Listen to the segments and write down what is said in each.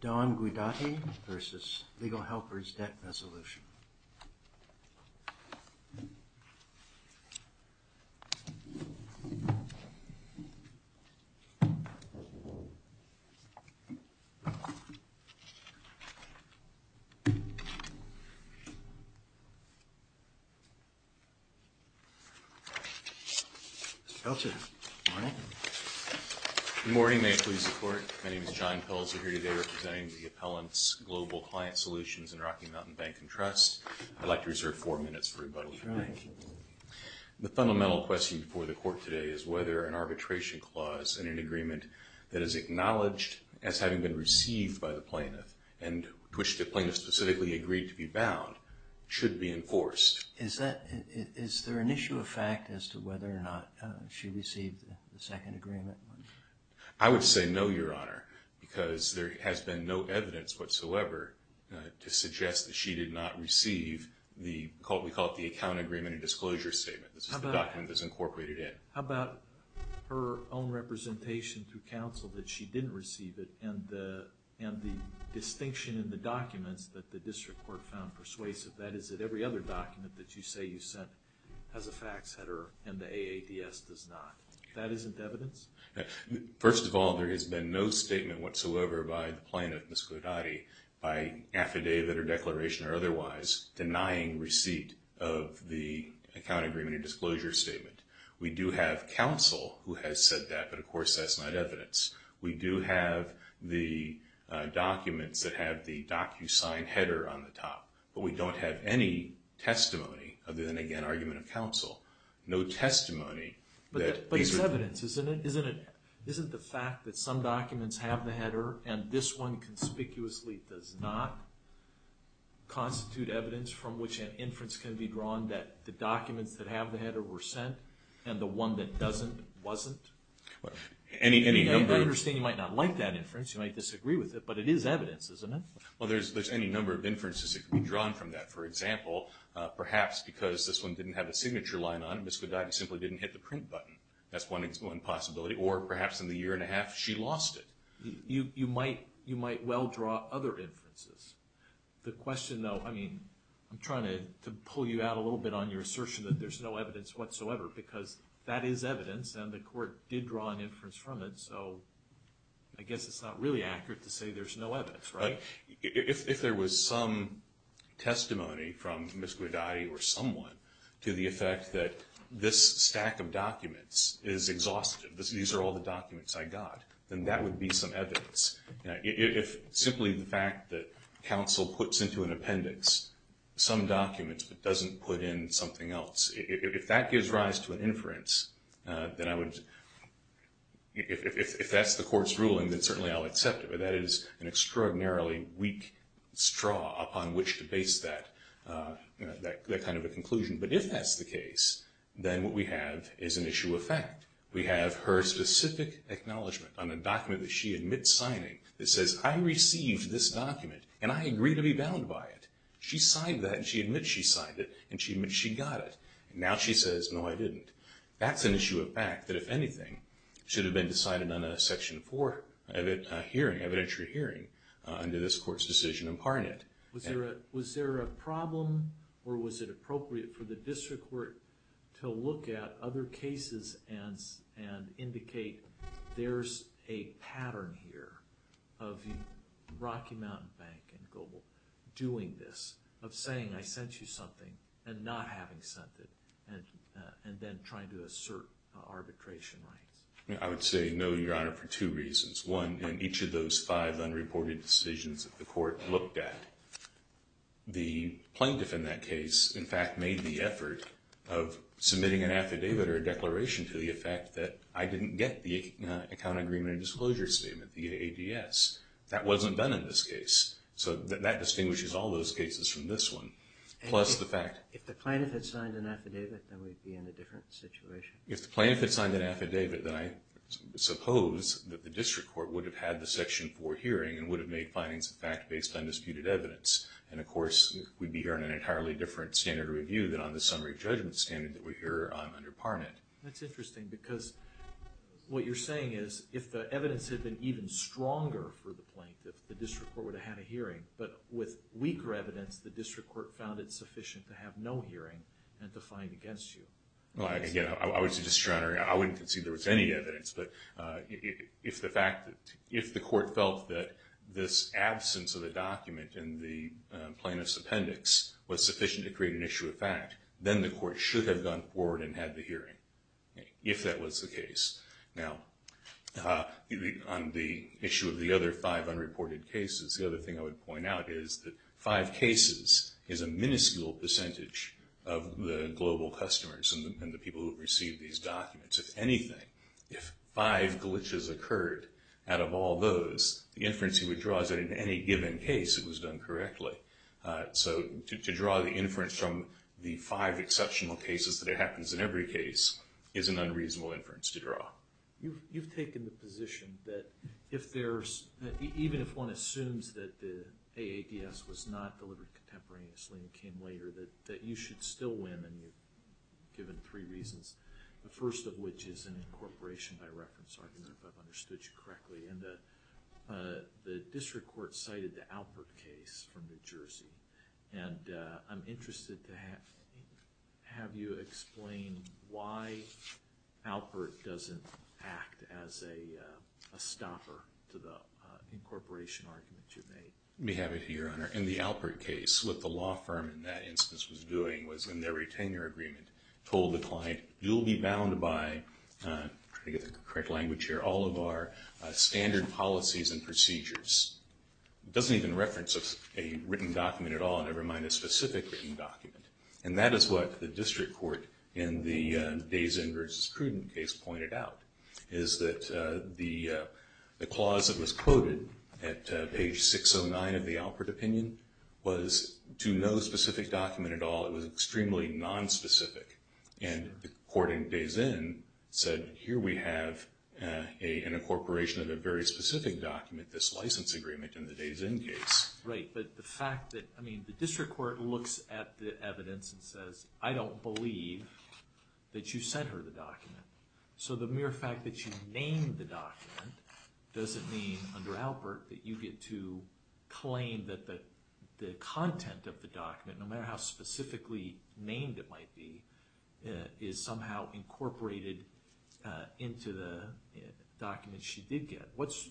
Don Guidotti v. Legal Helpers Debt Resolution Good morning, may it please the Court. My name is John Pelzer, here today representing the Appellant's Global Client Solutions and Rocky Mountain Bank and Trust. I'd like to reserve four minutes for rebuttal. The fundamental question before the Court today is whether an arbitration clause in an agreement that is acknowledged as having been received by the plaintiff, and to which the plaintiff specifically agreed to be bound, should be enforced. Is there an issue of fact as to whether or not she received the second agreement? I would say no, Your Honor, because there has been no evidence whatsoever to suggest that she did not receive the, we call it the Account Agreement and Disclosure Statement. This is the document that's incorporated in. How about her own representation through counsel that she didn't receive it, and the distinction in the documents that the District Court found persuasive? That is, that every other document that you say you sent has a facts header, and the AADS does not. That isn't evidence? First of all, there has been no statement whatsoever by the plaintiff, Ms. Godati, by affidavit or declaration or otherwise denying receipt of the Account Agreement and Disclosure Statement. We do have counsel who has said that, but of course, that's not evidence. We do have the documents that have the DocuSign header on the top, but we don't have any testimony, other than, again, argument of counsel. No testimony that these are... But it's evidence, isn't it? Isn't it the fact that some documents have the header, and this one conspicuously does not constitute evidence from which an inference can be drawn that the documents that have the header were sent, and the one that doesn't, wasn't? Any number... I understand you might not like that inference, you might disagree with it, but it is evidence, isn't it? Well, there's any number of inferences that can be drawn from that. For example, perhaps because this one didn't have a signature line on it, Ms. Godati simply didn't hit the print button. That's one possibility. Or perhaps in the year and a half, she lost it. You might well draw other inferences. The question, though, I mean, I'm trying to pull you out a little bit on your assertion that there's no evidence whatsoever, because that is evidence, and the court did draw an inference from it, so I guess it's not really accurate to say there's no evidence, right? If there was some testimony from Ms. Godati or someone to the effect that this stack of documents is exhaustive, these are all the documents I got, then that would be some evidence. If simply the fact that counsel puts into an appendix some documents but doesn't put in something else, if that gives rise to an inference, then I would... If that's the court's ruling, then certainly I'll accept it, but that is an extraordinarily weak straw upon which to base that kind of a conclusion. But if that's the case, then what we have is an issue of fact. We have her specific acknowledgment on a document that she admits signing that says, I received this document, and I agree to be bound by it. She signed that, and she admits she signed it, and she admits she got it. Now she says, no, I didn't. That's an issue of fact that, if anything, should have been decided on a Section 4 hearing, evidentiary hearing, under this court's decision imparting it. Was there a problem, or was it appropriate for the district court to look at other cases and indicate there's a pattern here of Rocky Mountain Bank and Global doing this, of saying, I sent you something, and not having sent it, and then trying to assert arbitration rights? I would say, no, Your Honor, for two reasons. One, in each of those five unreported decisions that the court looked at, the plaintiff in that case, in fact, made the effort of submitting an affidavit or a declaration to the effect that I didn't get the Account Agreement and Disclosure Statement, the AADS. That wasn't done in this case. So that distinguishes all those cases from this one, plus the fact... If the plaintiff had signed an affidavit, then we'd be in a different situation. If the plaintiff had signed an affidavit, then I suppose that the district court would have had the Section 4 hearing and would have made findings of fact based on disputed evidence. And of course, we'd be hearing an entirely different standard of review than on the summary judgment standard that we hear on under Parnett. That's interesting, because what you're saying is, if the evidence had been even stronger for the plaintiff, the district court would have had a hearing. But with weaker evidence, the district court found it sufficient to have no hearing and to find against you. Well, again, I was just trying to... I wouldn't concede there was any evidence, but if the court felt that this absence of a document in the plaintiff's appendix was sufficient to create an issue of fact, then the court should have gone forward and had the hearing, if that was the case. Now, on the issue of the other five unreported cases, the other thing I would point out is that five cases is a minuscule percentage of the global customers and the people who receive these documents. If anything, if five glitches occurred out of all those, the inference you would draw is that in any given case it was done correctly. So to draw the inference from the five exceptional cases that it happens in every case is an unreasonable inference to draw. You've taken the position that even if one assumes that the AADS was not delivered contemporaneously and came later, that you should still win, and you've given three reasons, the first of which is an incorporation by reference argument, if I've understood you correctly. The district court cited the Alpert case from New Jersey, and I'm interested to have you explain why Alpert doesn't act as a stopper to the incorporation argument you made. Let me have it here, Your Honor. In the Alpert case, what the law firm in that instance was doing was, in their retainer agreement, told the client, you'll be bound by, trying to get the correct language here, all of our standard policies and procedures. It doesn't even reference a written document at all, never mind a specific written document. And that is what the district court in the Dazen v. Cruden case pointed out, is that the clause that was quoted at page 609 of the Alpert opinion was to no specific document at all. It was extremely nonspecific. And the court in Dazen said, here we have an incorporation of a very specific document, this license agreement in the Dazen case. Right, but the fact that, I mean, the district court looks at the evidence and says, I don't believe that you sent her the document. So the mere fact that you named the document doesn't mean, under Alpert, that you get to claim that the content of the document, no matter how specifically named it might be, is somehow incorporated into the document she did get. What's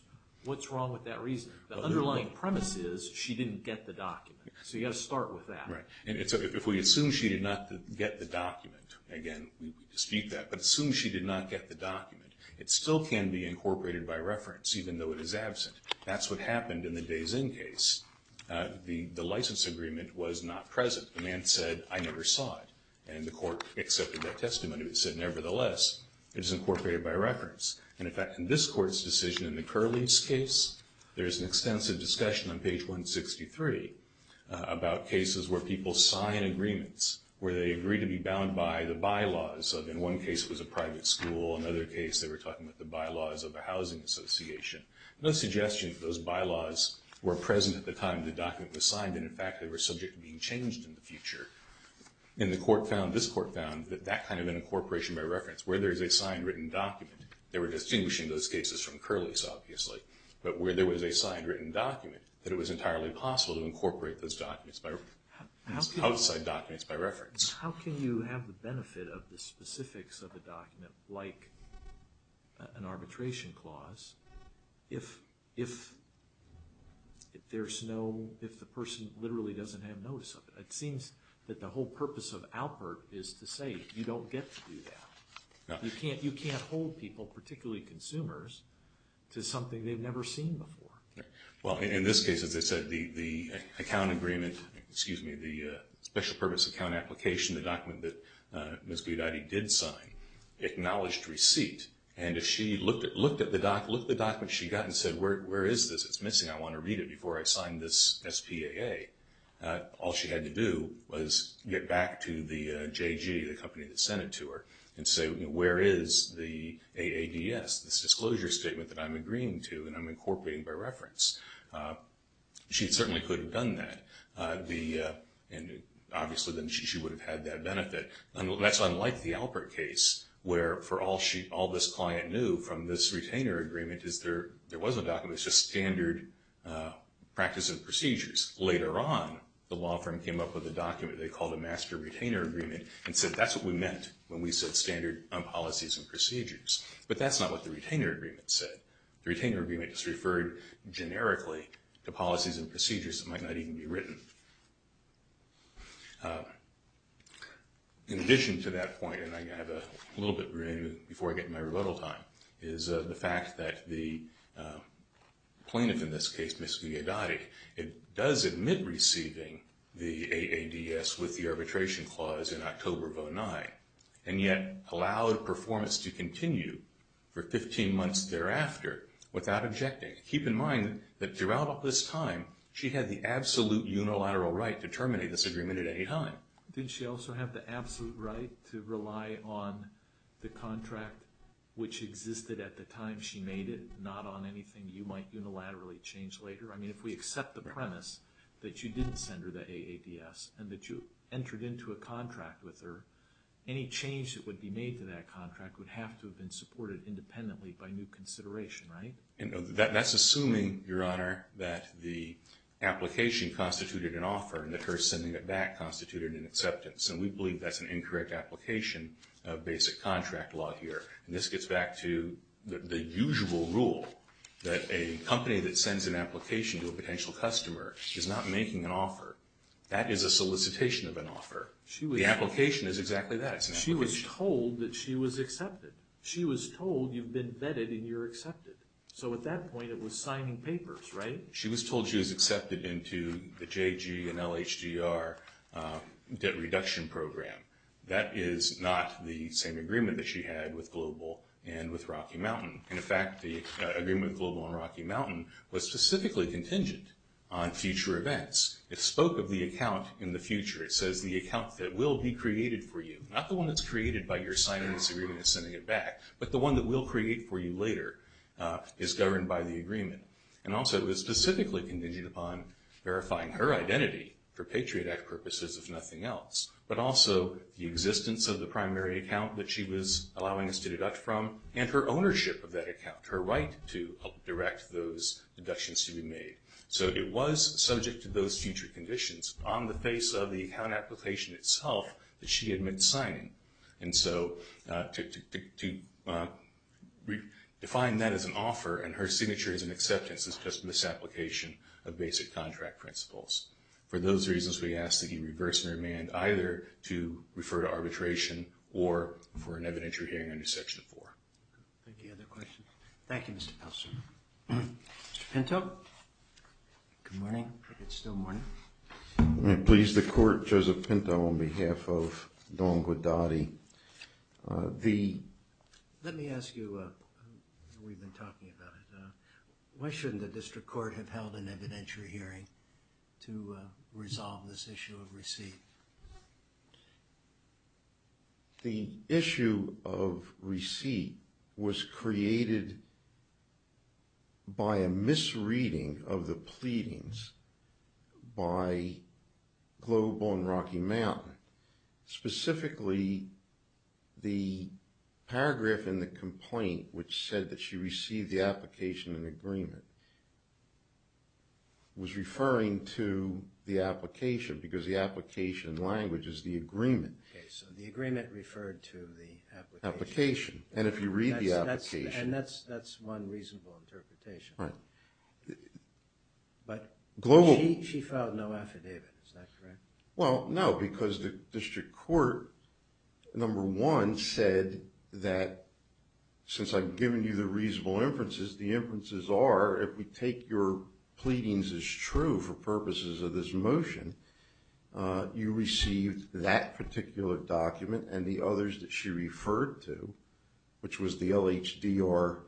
wrong with that reason? The underlying premise is, she didn't get the document. So you've got to start with that. Right. And if we assume she did not get the document, again, we dispute that, but assume she did not get the document, it still can be incorporated by reference, even though it is absent. That's what happened in the Dazen case. The license agreement was not present. The man said, I never saw it. And the court accepted that testimony, but said, nevertheless, it is incorporated by reference. And in fact, in this court's decision, in the Curleys case, there is an extensive discussion on page 163 about cases where people sign agreements, where they agree to be bound by the bylaws of, in one case, it was a private school, another case, they were talking about the bylaws of a housing association. No suggestion that those bylaws were present at the time the document was signed, and in fact, they were subject to being changed in the future. And the court found, this court found, that kind of an incorporation by reference, where there is a signed written document, they were distinguishing those cases from Curleys, obviously, but where there was a signed written document, that it was entirely possible to incorporate those documents by reference, outside documents by reference. How can you have the benefit of the specifics of a document like an arbitration clause if there's no, if the person literally doesn't have notice of it? It seems that the whole country doesn't get to do that. You can't hold people, particularly consumers, to something they've never seen before. Well, in this case, as I said, the account agreement, excuse me, the special purpose account application, the document that Ms. Guidotti did sign, acknowledged receipt. And if she looked at the document, she got and said, where is this? It's missing. I want to read it before I sign this SPAA. All she had to do was get back to the JG, the company that sent it to her, and say, where is the AADS, this disclosure statement that I'm agreeing to and I'm incorporating by reference. She certainly could have done that. And obviously, then she would have had that benefit. That's unlike the Alpert case, where for all this client knew from this retainer agreement is there was a document. It's just standard practice and procedures. Later on, the law firm came up with a document they called a master retainer agreement and said, that's what we meant when we said standard policies and procedures. But that's not what the retainer agreement said. The retainer agreement just referred generically to policies and procedures that might not even be written. In addition to that point, and I have a little bit remaining before I get my rebuttal time, is the fact that the plaintiff in this case, Ms. Guidotti, does admit receiving the AADS with the arbitration clause in October of 09, and yet allowed performance to continue for 15 months thereafter without objecting. Keep in mind that throughout this time, she had the absolute unilateral right to terminate this agreement at any time. Did she also have the absolute right to rely on the contract which existed at the time she made it, not on anything you might unilaterally change later? I mean, if we accept the premise that you didn't send her the AADS and that you entered into a contract with her, any change that would be made to that contract would have to have been supported independently by new consideration, right? That's assuming, Your Honor, that the application constituted an offer and that her sending it back constituted an acceptance. And we believe that's an incorrect application of basic contract law here. And this gets back to the usual rule that a company that sends an application to a potential customer is not making an offer. That is a solicitation of an offer. The application is exactly that. It's an application. She was told that she was accepted. She was told you've been vetted and you're accepted. So at that point, it was signing papers, right? She was told she was accepted into the JG and LHGR debt reduction program. That is not the same agreement that she had with Global and with Rocky Mountain. In fact, the agreement with Global and Rocky Mountain was specifically contingent on future events. It spoke of the account in the future. It says the account that will be created for you, not the one that's created by your signing this agreement and sending it back, but the one that we'll create for you later is governed by the agreement. And also it was specifically contingent upon verifying her identity for Patriot Act purposes if nothing else, but also the existence of the primary account that she was allowing us to deduct from and her ownership of that account, her right to direct those deductions to be made. So it was subject to those future conditions on the face of the account application itself that she admits signing. And so to define that as an offer and her signature as an acceptance is just misapplication of basic contract principles. For those reasons, we ask that you reverse your demand either to refer to arbitration or for an evidentiary hearing under Section 4. Thank you. Any other questions? Thank you, Mr. Peltzer. Mr. Pinto? Good morning, if it's still morning. May it please the Court, Joseph Pinto on behalf of Don Guadagni. Let me ask you, we've been talking about it, why shouldn't the District Court have held an evidentiary hearing to resolve this issue of receipt? The issue of receipt was created by a misreading of the pleadings by Global and Rocky Mountain. Specifically, the paragraph in the complaint which said that she received the application in agreement was referring to the application because the application language is the agreement. Okay, so the agreement referred to the application. Application, and if you read the application. And that's one reasonable interpretation. Right. But she filed no affidavit, is that correct? Well, no, because the District Court, number one, said that since I've given you the circumstances are, if we take your pleadings as true for purposes of this motion, you received that particular document and the others that she referred to, which was the LHDR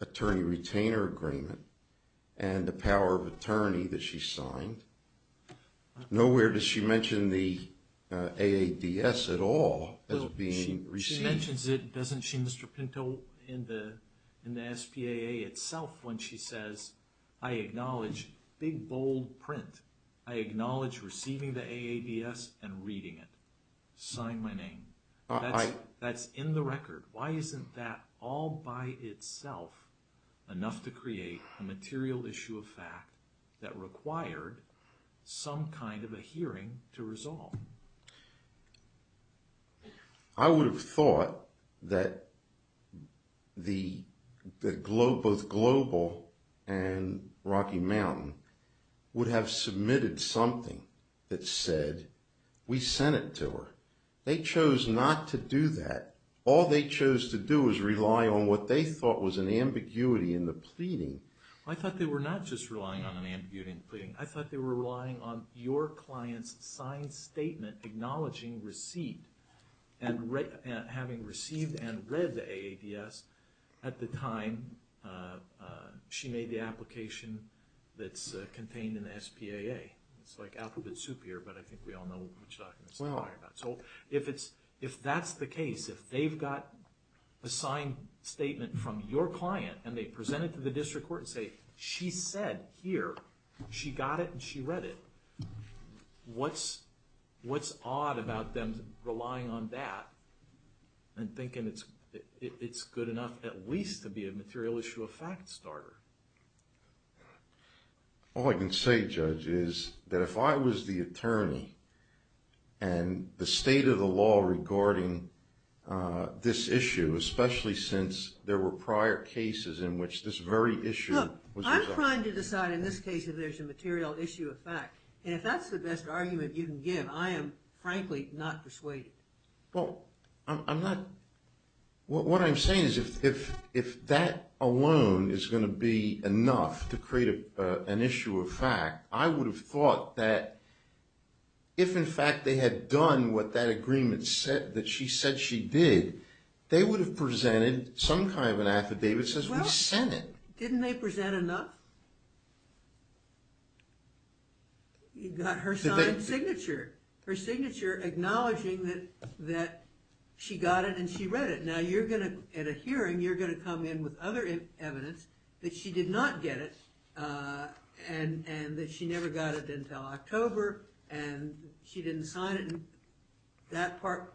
attorney retainer agreement and the power of attorney that she signed. Nowhere does she mention the AADS at all as being receipt. She mentions it, doesn't she, Mr. Pinto, in the SPAA itself when she says, I acknowledge big, bold print. I acknowledge receiving the AADS and reading it. Sign my name. That's in the record. Why isn't that all by itself enough to create a material issue of fact that required some kind of a hearing to resolve? I would have thought that both Global and Rocky Mountain would have submitted something that said, we sent it to her. They chose not to do that. All they chose to do was rely on what they thought was an ambiguity in the pleading. I thought they were not just relying on an ambiguity in the pleading. I thought they were relying on your client's signed statement acknowledging receipt and having received and read the AADS at the time she made the application that's contained in the SPAA. It's like alphabet soup here, but I think we all know which documents to talk about. If that's the case, if they've got a signed statement from your client and they present it to the district court and say, she said here, she got it and she read it, what's odd about them relying on that and thinking it's good enough at least to be a material issue of fact starter? All I can say, Judge, is that if I was the attorney and the state of the law regarding this issue, especially since there were prior cases in which this very issue was discussed. I'm trying to decide in this case if there's a material issue of fact. If that's the best argument you can give, I am frankly not persuaded. What I'm saying is if that alone is going to be enough to create an issue of fact, I they would have presented some kind of an affidavit that says we sent it. Well, didn't they present enough? You've got her signed signature, her signature acknowledging that she got it and she read it. Now, at a hearing, you're going to come in with other evidence that she did not get it and that she never got it until October and she didn't sign it. That part,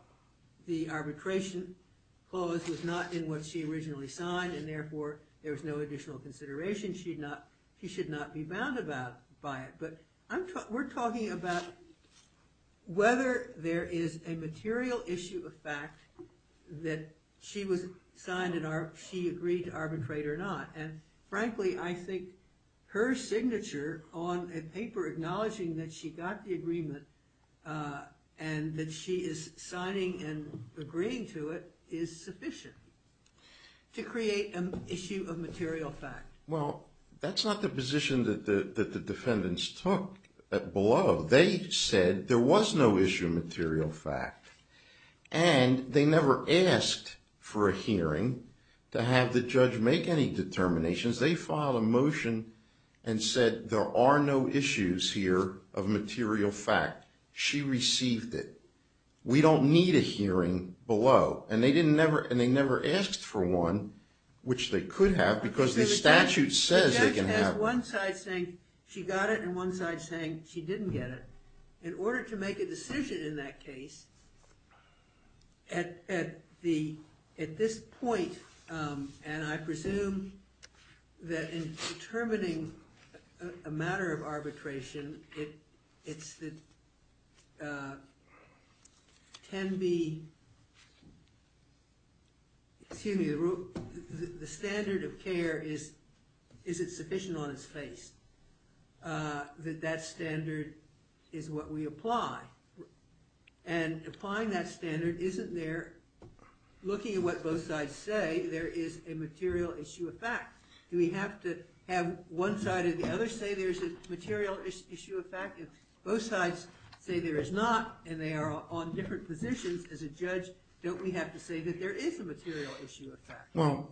the arbitration clause, was not in what she originally signed and therefore there was no additional consideration. She should not be bound by it. But we're talking about whether there is a material issue of fact that she was signed and she agreed to arbitrate or not. Frankly, I think her signature on a paper acknowledging that she got the agreement and that she is signing and agreeing to it is sufficient to create an issue of material fact. Well, that's not the position that the defendants took at Beloved. They said there was no issue of material fact and they never asked for a hearing to have the judge make any determinations. They filed a motion and said there are no issues here of material fact. She received it. We don't need a hearing below. And they never asked for one, which they could have because the statute says they can have one. The judge has one side saying she got it and one side saying she didn't get it. In order to make a decision in that case, at this point, and I presume that in determining a matter of arbitration, it's the standard of care, is it sufficient on its face that that standard is what we apply? And applying that standard isn't there looking at what both sides say there is a material issue of fact. Do we have to have one side or the other say there's a material issue of fact? If both sides say there is not and they are on different positions as a judge, don't we Well,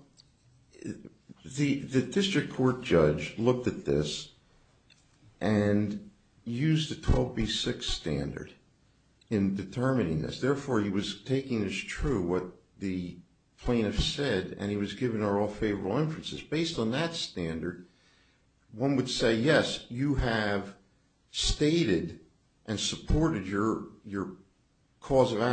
the district court judge looked at this and used the 12B6 standard in determining this. Therefore, he was taking as true what the plaintiff said and he was giving her all favorable inferences. Based on that standard, one would say, yes, you have stated and supported your cause of Now,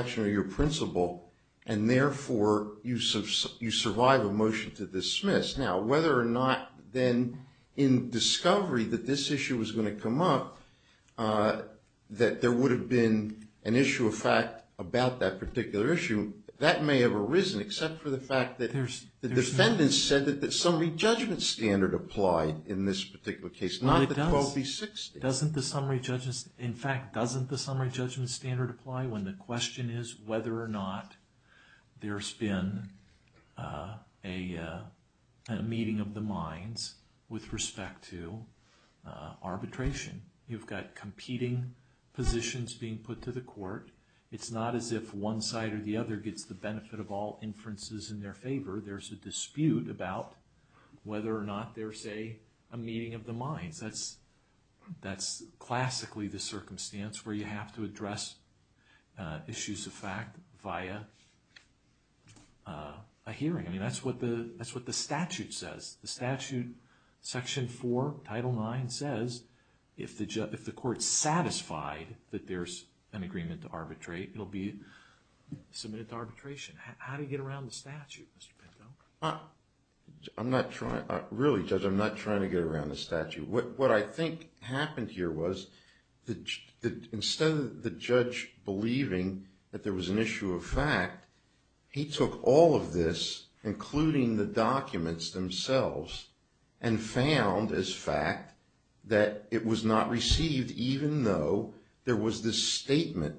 whether or not then in discovery that this issue was going to come up, that there would have been an issue of fact about that particular issue, that may have arisen except for the fact that the defendant said that the summary judgment standard applied in this particular case, not the 12B6 standard. In fact, doesn't the summary judgment standard apply when the question is whether or not there's been a meeting of the minds with respect to arbitration? You've got competing positions being put to the court. It's not as if one side or the other gets the benefit of all inferences in their favor. There's a dispute about whether or not there's a meeting of the minds. That's classically the circumstance where you have to address issues of fact via a hearing. I mean, that's what the statute says. The statute, Section 4, Title 9 says if the court's satisfied that there's an agreement to arbitrate, it'll be submitted to arbitration. How do you get around the statute, Mr. Pinto? Really, Judge, I'm not trying to get around the statute. What I think happened here was instead of the judge believing that there was an issue of fact, he took all of this, including the documents themselves, and found as fact that it was not received even though there was this statement.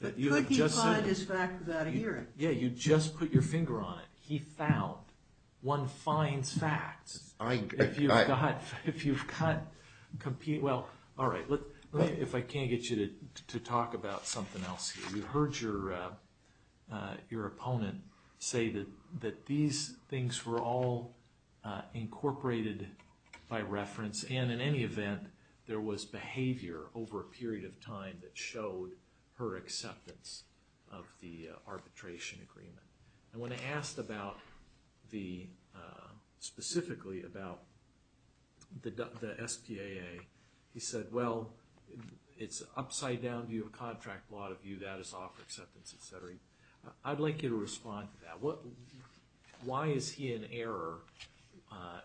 But could he find his fact without a hearing? Yeah, you just put your finger on it. He found. One finds facts. If you've got competing... Well, all right, if I can't get you to talk about something else here. We heard your opponent say that these things were all incorporated by reference, and that showed her acceptance of the arbitration agreement. And when I asked specifically about the SPAA, he said, well, it's upside-down view of contract. A lot of you, that is offer acceptance, et cetera. I'd like you to respond to that. Why is he in error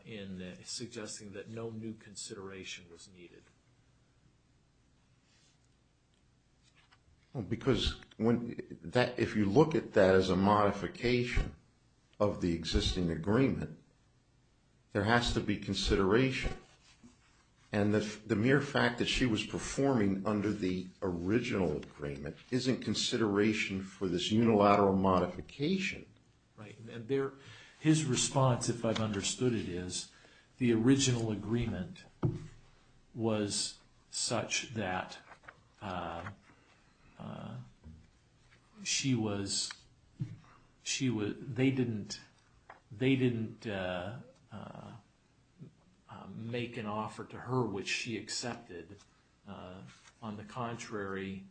in suggesting that no new consideration was needed? Because if you look at that as a modification of the existing agreement, there has to be consideration. And the mere fact that she was performing under the original agreement isn't consideration for this unilateral modification. Right. His response, if I've understood it, is the original agreement was such that they didn't make an offer to her which she accepted. On the contrary,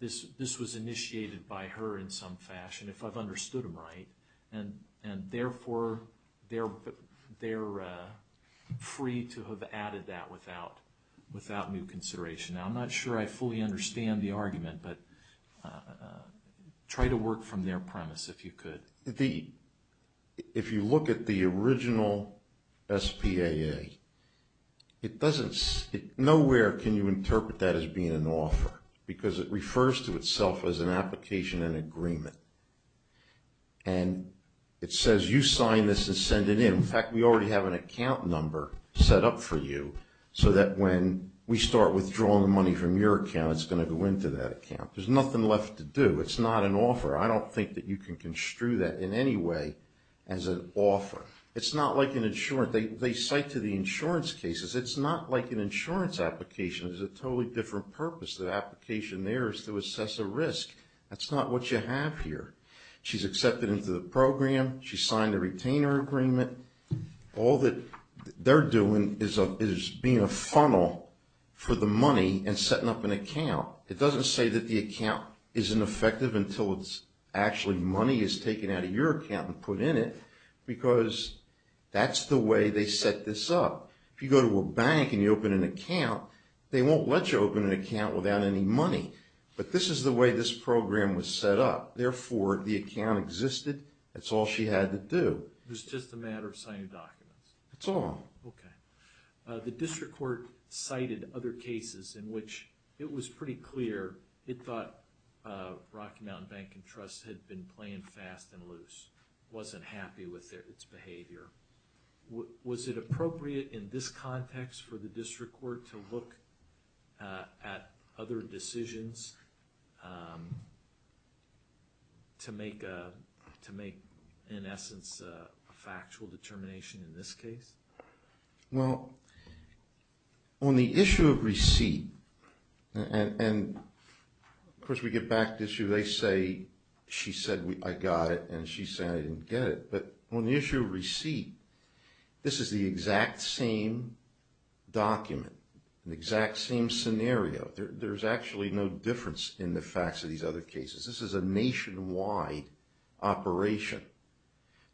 this was initiated by her in some fashion, if I've understood him right. And therefore, they're free to have added that without new consideration. Now, I'm not sure I fully understand the argument, but try to work from their premise if you could. If you look at the original SPAA, nowhere can you interpret that as being an offer because it refers to itself as an application in agreement. And it says you sign this and send it in. In fact, we already have an account number set up for you so that when we start withdrawing the money from your account it's going to go into that account. There's nothing left to do. It's not an offer. I don't think that you can construe that in any way as an offer. It's not like an insurance. They cite to the insurance cases. It's not like an insurance application. It's a totally different purpose. The application there is to assess a risk. That's not what you have here. She's accepted into the program. She signed the retainer agreement. All that they're doing is being a funnel for the money and setting up an account. It doesn't say that the account isn't effective until it's actually money is taken out of your account and put in it because that's the way they set this up. If you go to a bank and you open an account, they won't let you open an account without any money. But this is the way this program was set up. Therefore, the account existed. That's all she had to do. It was just a matter of signing documents. That's all. Okay. The district court cited other cases in which it was pretty clear it thought Rocky Mountain Bank and Trust had been playing fast and loose, wasn't happy with its behavior. Was it appropriate in this context for the district court to look at other factual determination in this case? Well, on the issue of receipt, and of course we get back to the issue, they say she said I got it and she said I didn't get it. But on the issue of receipt, this is the exact same document, the exact same scenario. There's actually no difference in the facts of these other cases. This is a nationwide operation.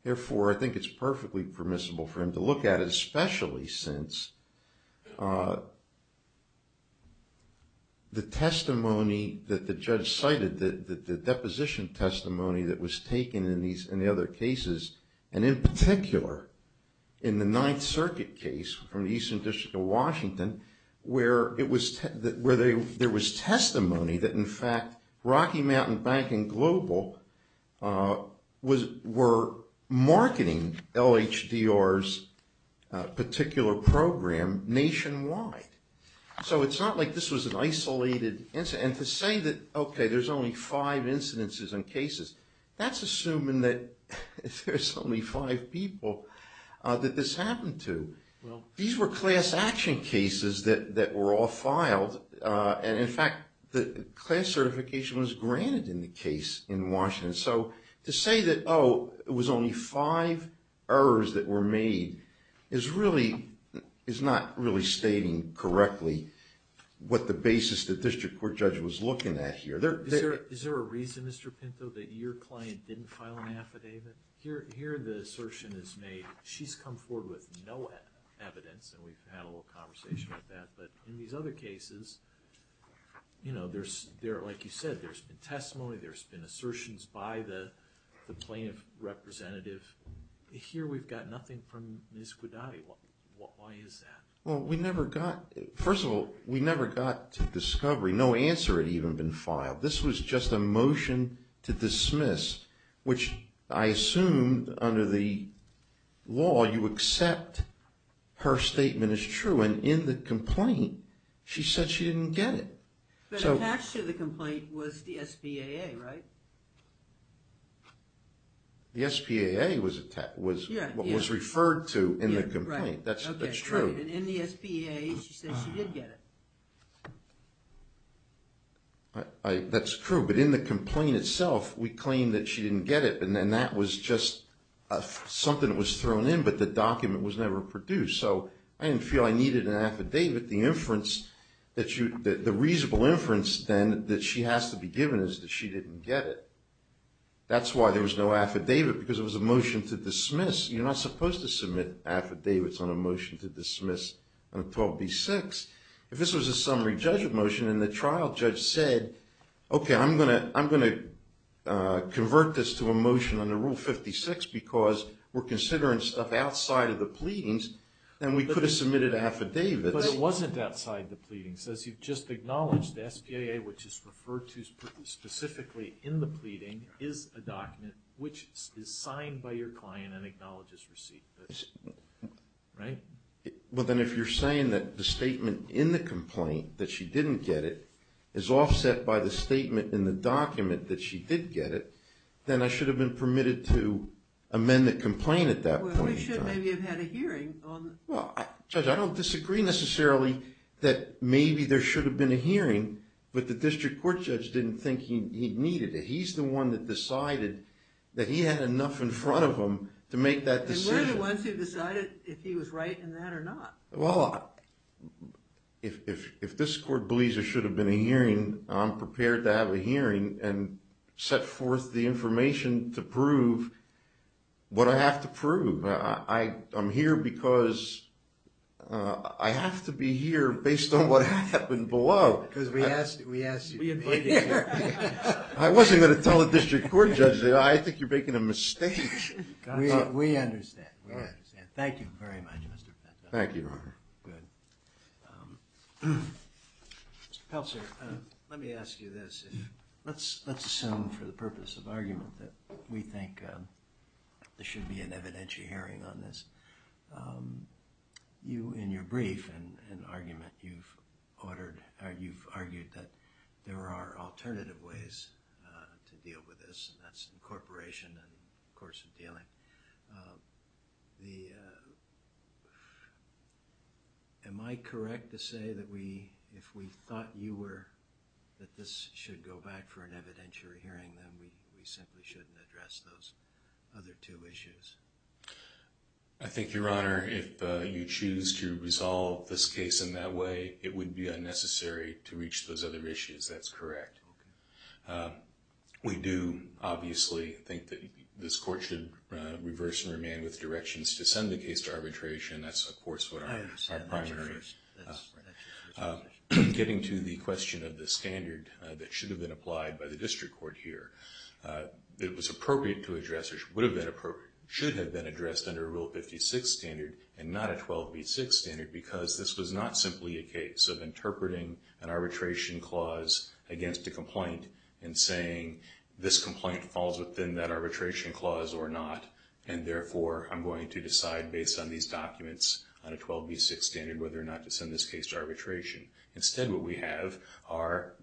Therefore, I think it's perfectly permissible for him to look at it, especially since the testimony that the judge cited, the deposition testimony that was taken in the other cases, and in particular in the Ninth Circuit case from the Eastern District of Washington where there was testimony that, in fact, Rocky Mountain Bank and Global were marketing LHDR's particular program nationwide. So it's not like this was an isolated incident. And to say that, okay, there's only five incidences and cases, that's assuming that there's only five people that this happened to. These were class action cases that were all filed, and, in fact, the class certification was granted in the case in Washington. So to say that, oh, it was only five errors that were made, is not really stating correctly what the basis the district court judge was looking at here. Is there a reason, Mr. Pinto, that your client didn't file an affidavit? Here the assertion is made she's come forward with no evidence, and we've had a little conversation about that. But in these other cases, like you said, there's been testimony, there's been assertions by the plaintiff representative. Here we've got nothing from Ms. Guadagni. Why is that? Well, first of all, we never got to discovery. No answer had even been filed. This was just a motion to dismiss, which I assume, under the law, you accept her statement as true. And in the complaint, she said she didn't get it. But attached to the complaint was the SPAA, right? The SPAA was what was referred to in the complaint. That's true. And in the SPAA, she said she did get it. That's true. But in the complaint itself, we claim that she didn't get it, and that was just something that was thrown in, but the document was never produced. So I didn't feel I needed an affidavit. The inference that you – the reasonable inference, then, that she has to be given is that she didn't get it. That's why there was no affidavit, because it was a motion to dismiss. You're not supposed to submit affidavits on a motion to dismiss on 12b-6. If this was a summary judgment motion, and the trial judge said, okay, I'm going to convert this to a motion under Rule 56 because we're considering stuff outside of the pleadings, then we could have submitted affidavits. But it wasn't outside the pleadings. As you've just acknowledged, the SPAA, which is referred to specifically in the pleading, is a document which is signed by your client and acknowledges receipt. Right? Well, then, if you're saying that the statement in the complaint, that she didn't get it, is offset by the statement in the document that she did get it, then I should have been permitted to amend the complaint at that point. Well, we should maybe have had a hearing. Well, Judge, I don't disagree, necessarily, that maybe there should have been a hearing, but the district court judge didn't think he needed it. He's the one that decided that he had enough in front of him to make that decision. And we're the ones who decided if he was right in that or not. Well, if this court believes there should have been a hearing, then I'm prepared to have a hearing and set forth the information to prove what I have to prove. I'm here because I have to be here based on what happened below. Because we asked you to be here. I wasn't going to tell the district court judge that. I think you're making a mistake. We understand. Thank you very much, Mr. Pinto. Thank you, Your Honor. Good. Mr. Pelcer, let me ask you this. Let's assume for the purpose of argument that we think there should be an evidentiary hearing on this. You, in your brief and argument, you've argued that there are alternative ways to deal with this, and that's incorporation and coercive dealing. Am I correct to say that if we thought that this should go back for an evidentiary hearing, then we simply shouldn't address those other two issues? I think, Your Honor, if you choose to resolve this case in that way, it would be unnecessary to reach those other issues. That's correct. We do, obviously, think that this court should reverse and remain with directions to send the case to arbitration. That's, of course, what our primary is. Getting to the question of the standard that should have been applied by the district court here, it was appropriate to address or should have been addressed under a Rule 56 standard and not a 12v6 standard because this was not simply a case of interpreting an arbitration clause against a complaint and saying, this complaint falls within that arbitration clause or not, and therefore I'm going to decide, based on these documents, on a 12v6 standard whether or not to send this case to arbitration. Instead, what we have are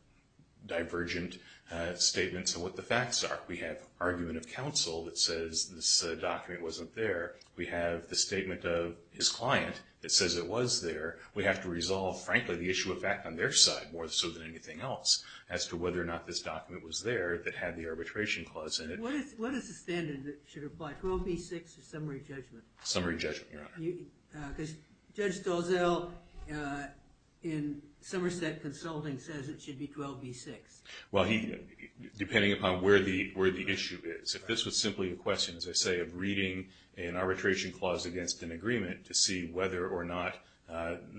divergent statements of what the facts are. We have argument of counsel that says this document wasn't there. We have the statement of his client that says it was there. We have to resolve, frankly, the issue of fact on their side more so than anything else as to whether or not this document was there that had the arbitration clause in it. What is the standard that should apply? 12v6 or summary judgment? Summary judgment, Your Honor. Judge Stolzell in Somerset Consulting says it should be 12v6. Well, depending upon where the issue is. If this was simply a question, as I say, of reading an arbitration clause against an agreement to see whether or not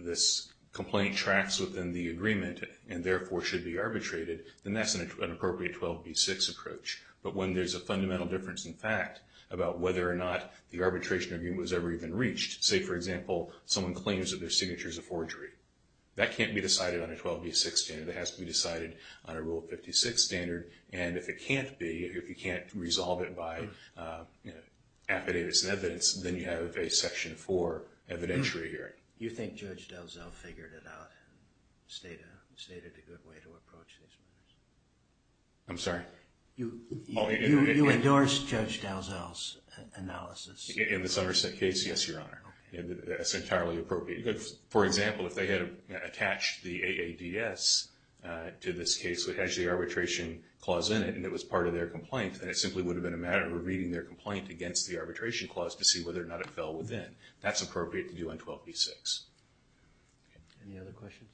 this complaint tracks within the agreement, and therefore should be arbitrated, then that's an appropriate 12v6 approach. But when there's a fundamental difference in fact about whether or not the arbitration agreement was ever even reached, say, for example, someone claims that their signature is a forgery, that can't be decided on a 12v6 standard. It has to be decided on a Rule 56 standard. And if it can't be, if you can't resolve it by affidavits and evidence, then you have a Section 4 evidentiary hearing. You think Judge Stolzell figured it out, stated a good way to approach these matters? I'm sorry? You endorse Judge Stolzell's analysis? In the Somerset case, yes, Your Honor. That's entirely appropriate. For example, if they had attached the AADS to this case, it has the arbitration clause in it, and it was part of their complaint, then it simply would have been a matter of reading their complaint against the arbitration clause to see whether or not it fell within. That's appropriate to do on 12v6. Any other questions?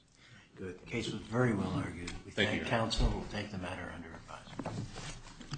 Good. The case was very well argued. Thank you, Your Honor. We thank counsel. We'll take the matter under review.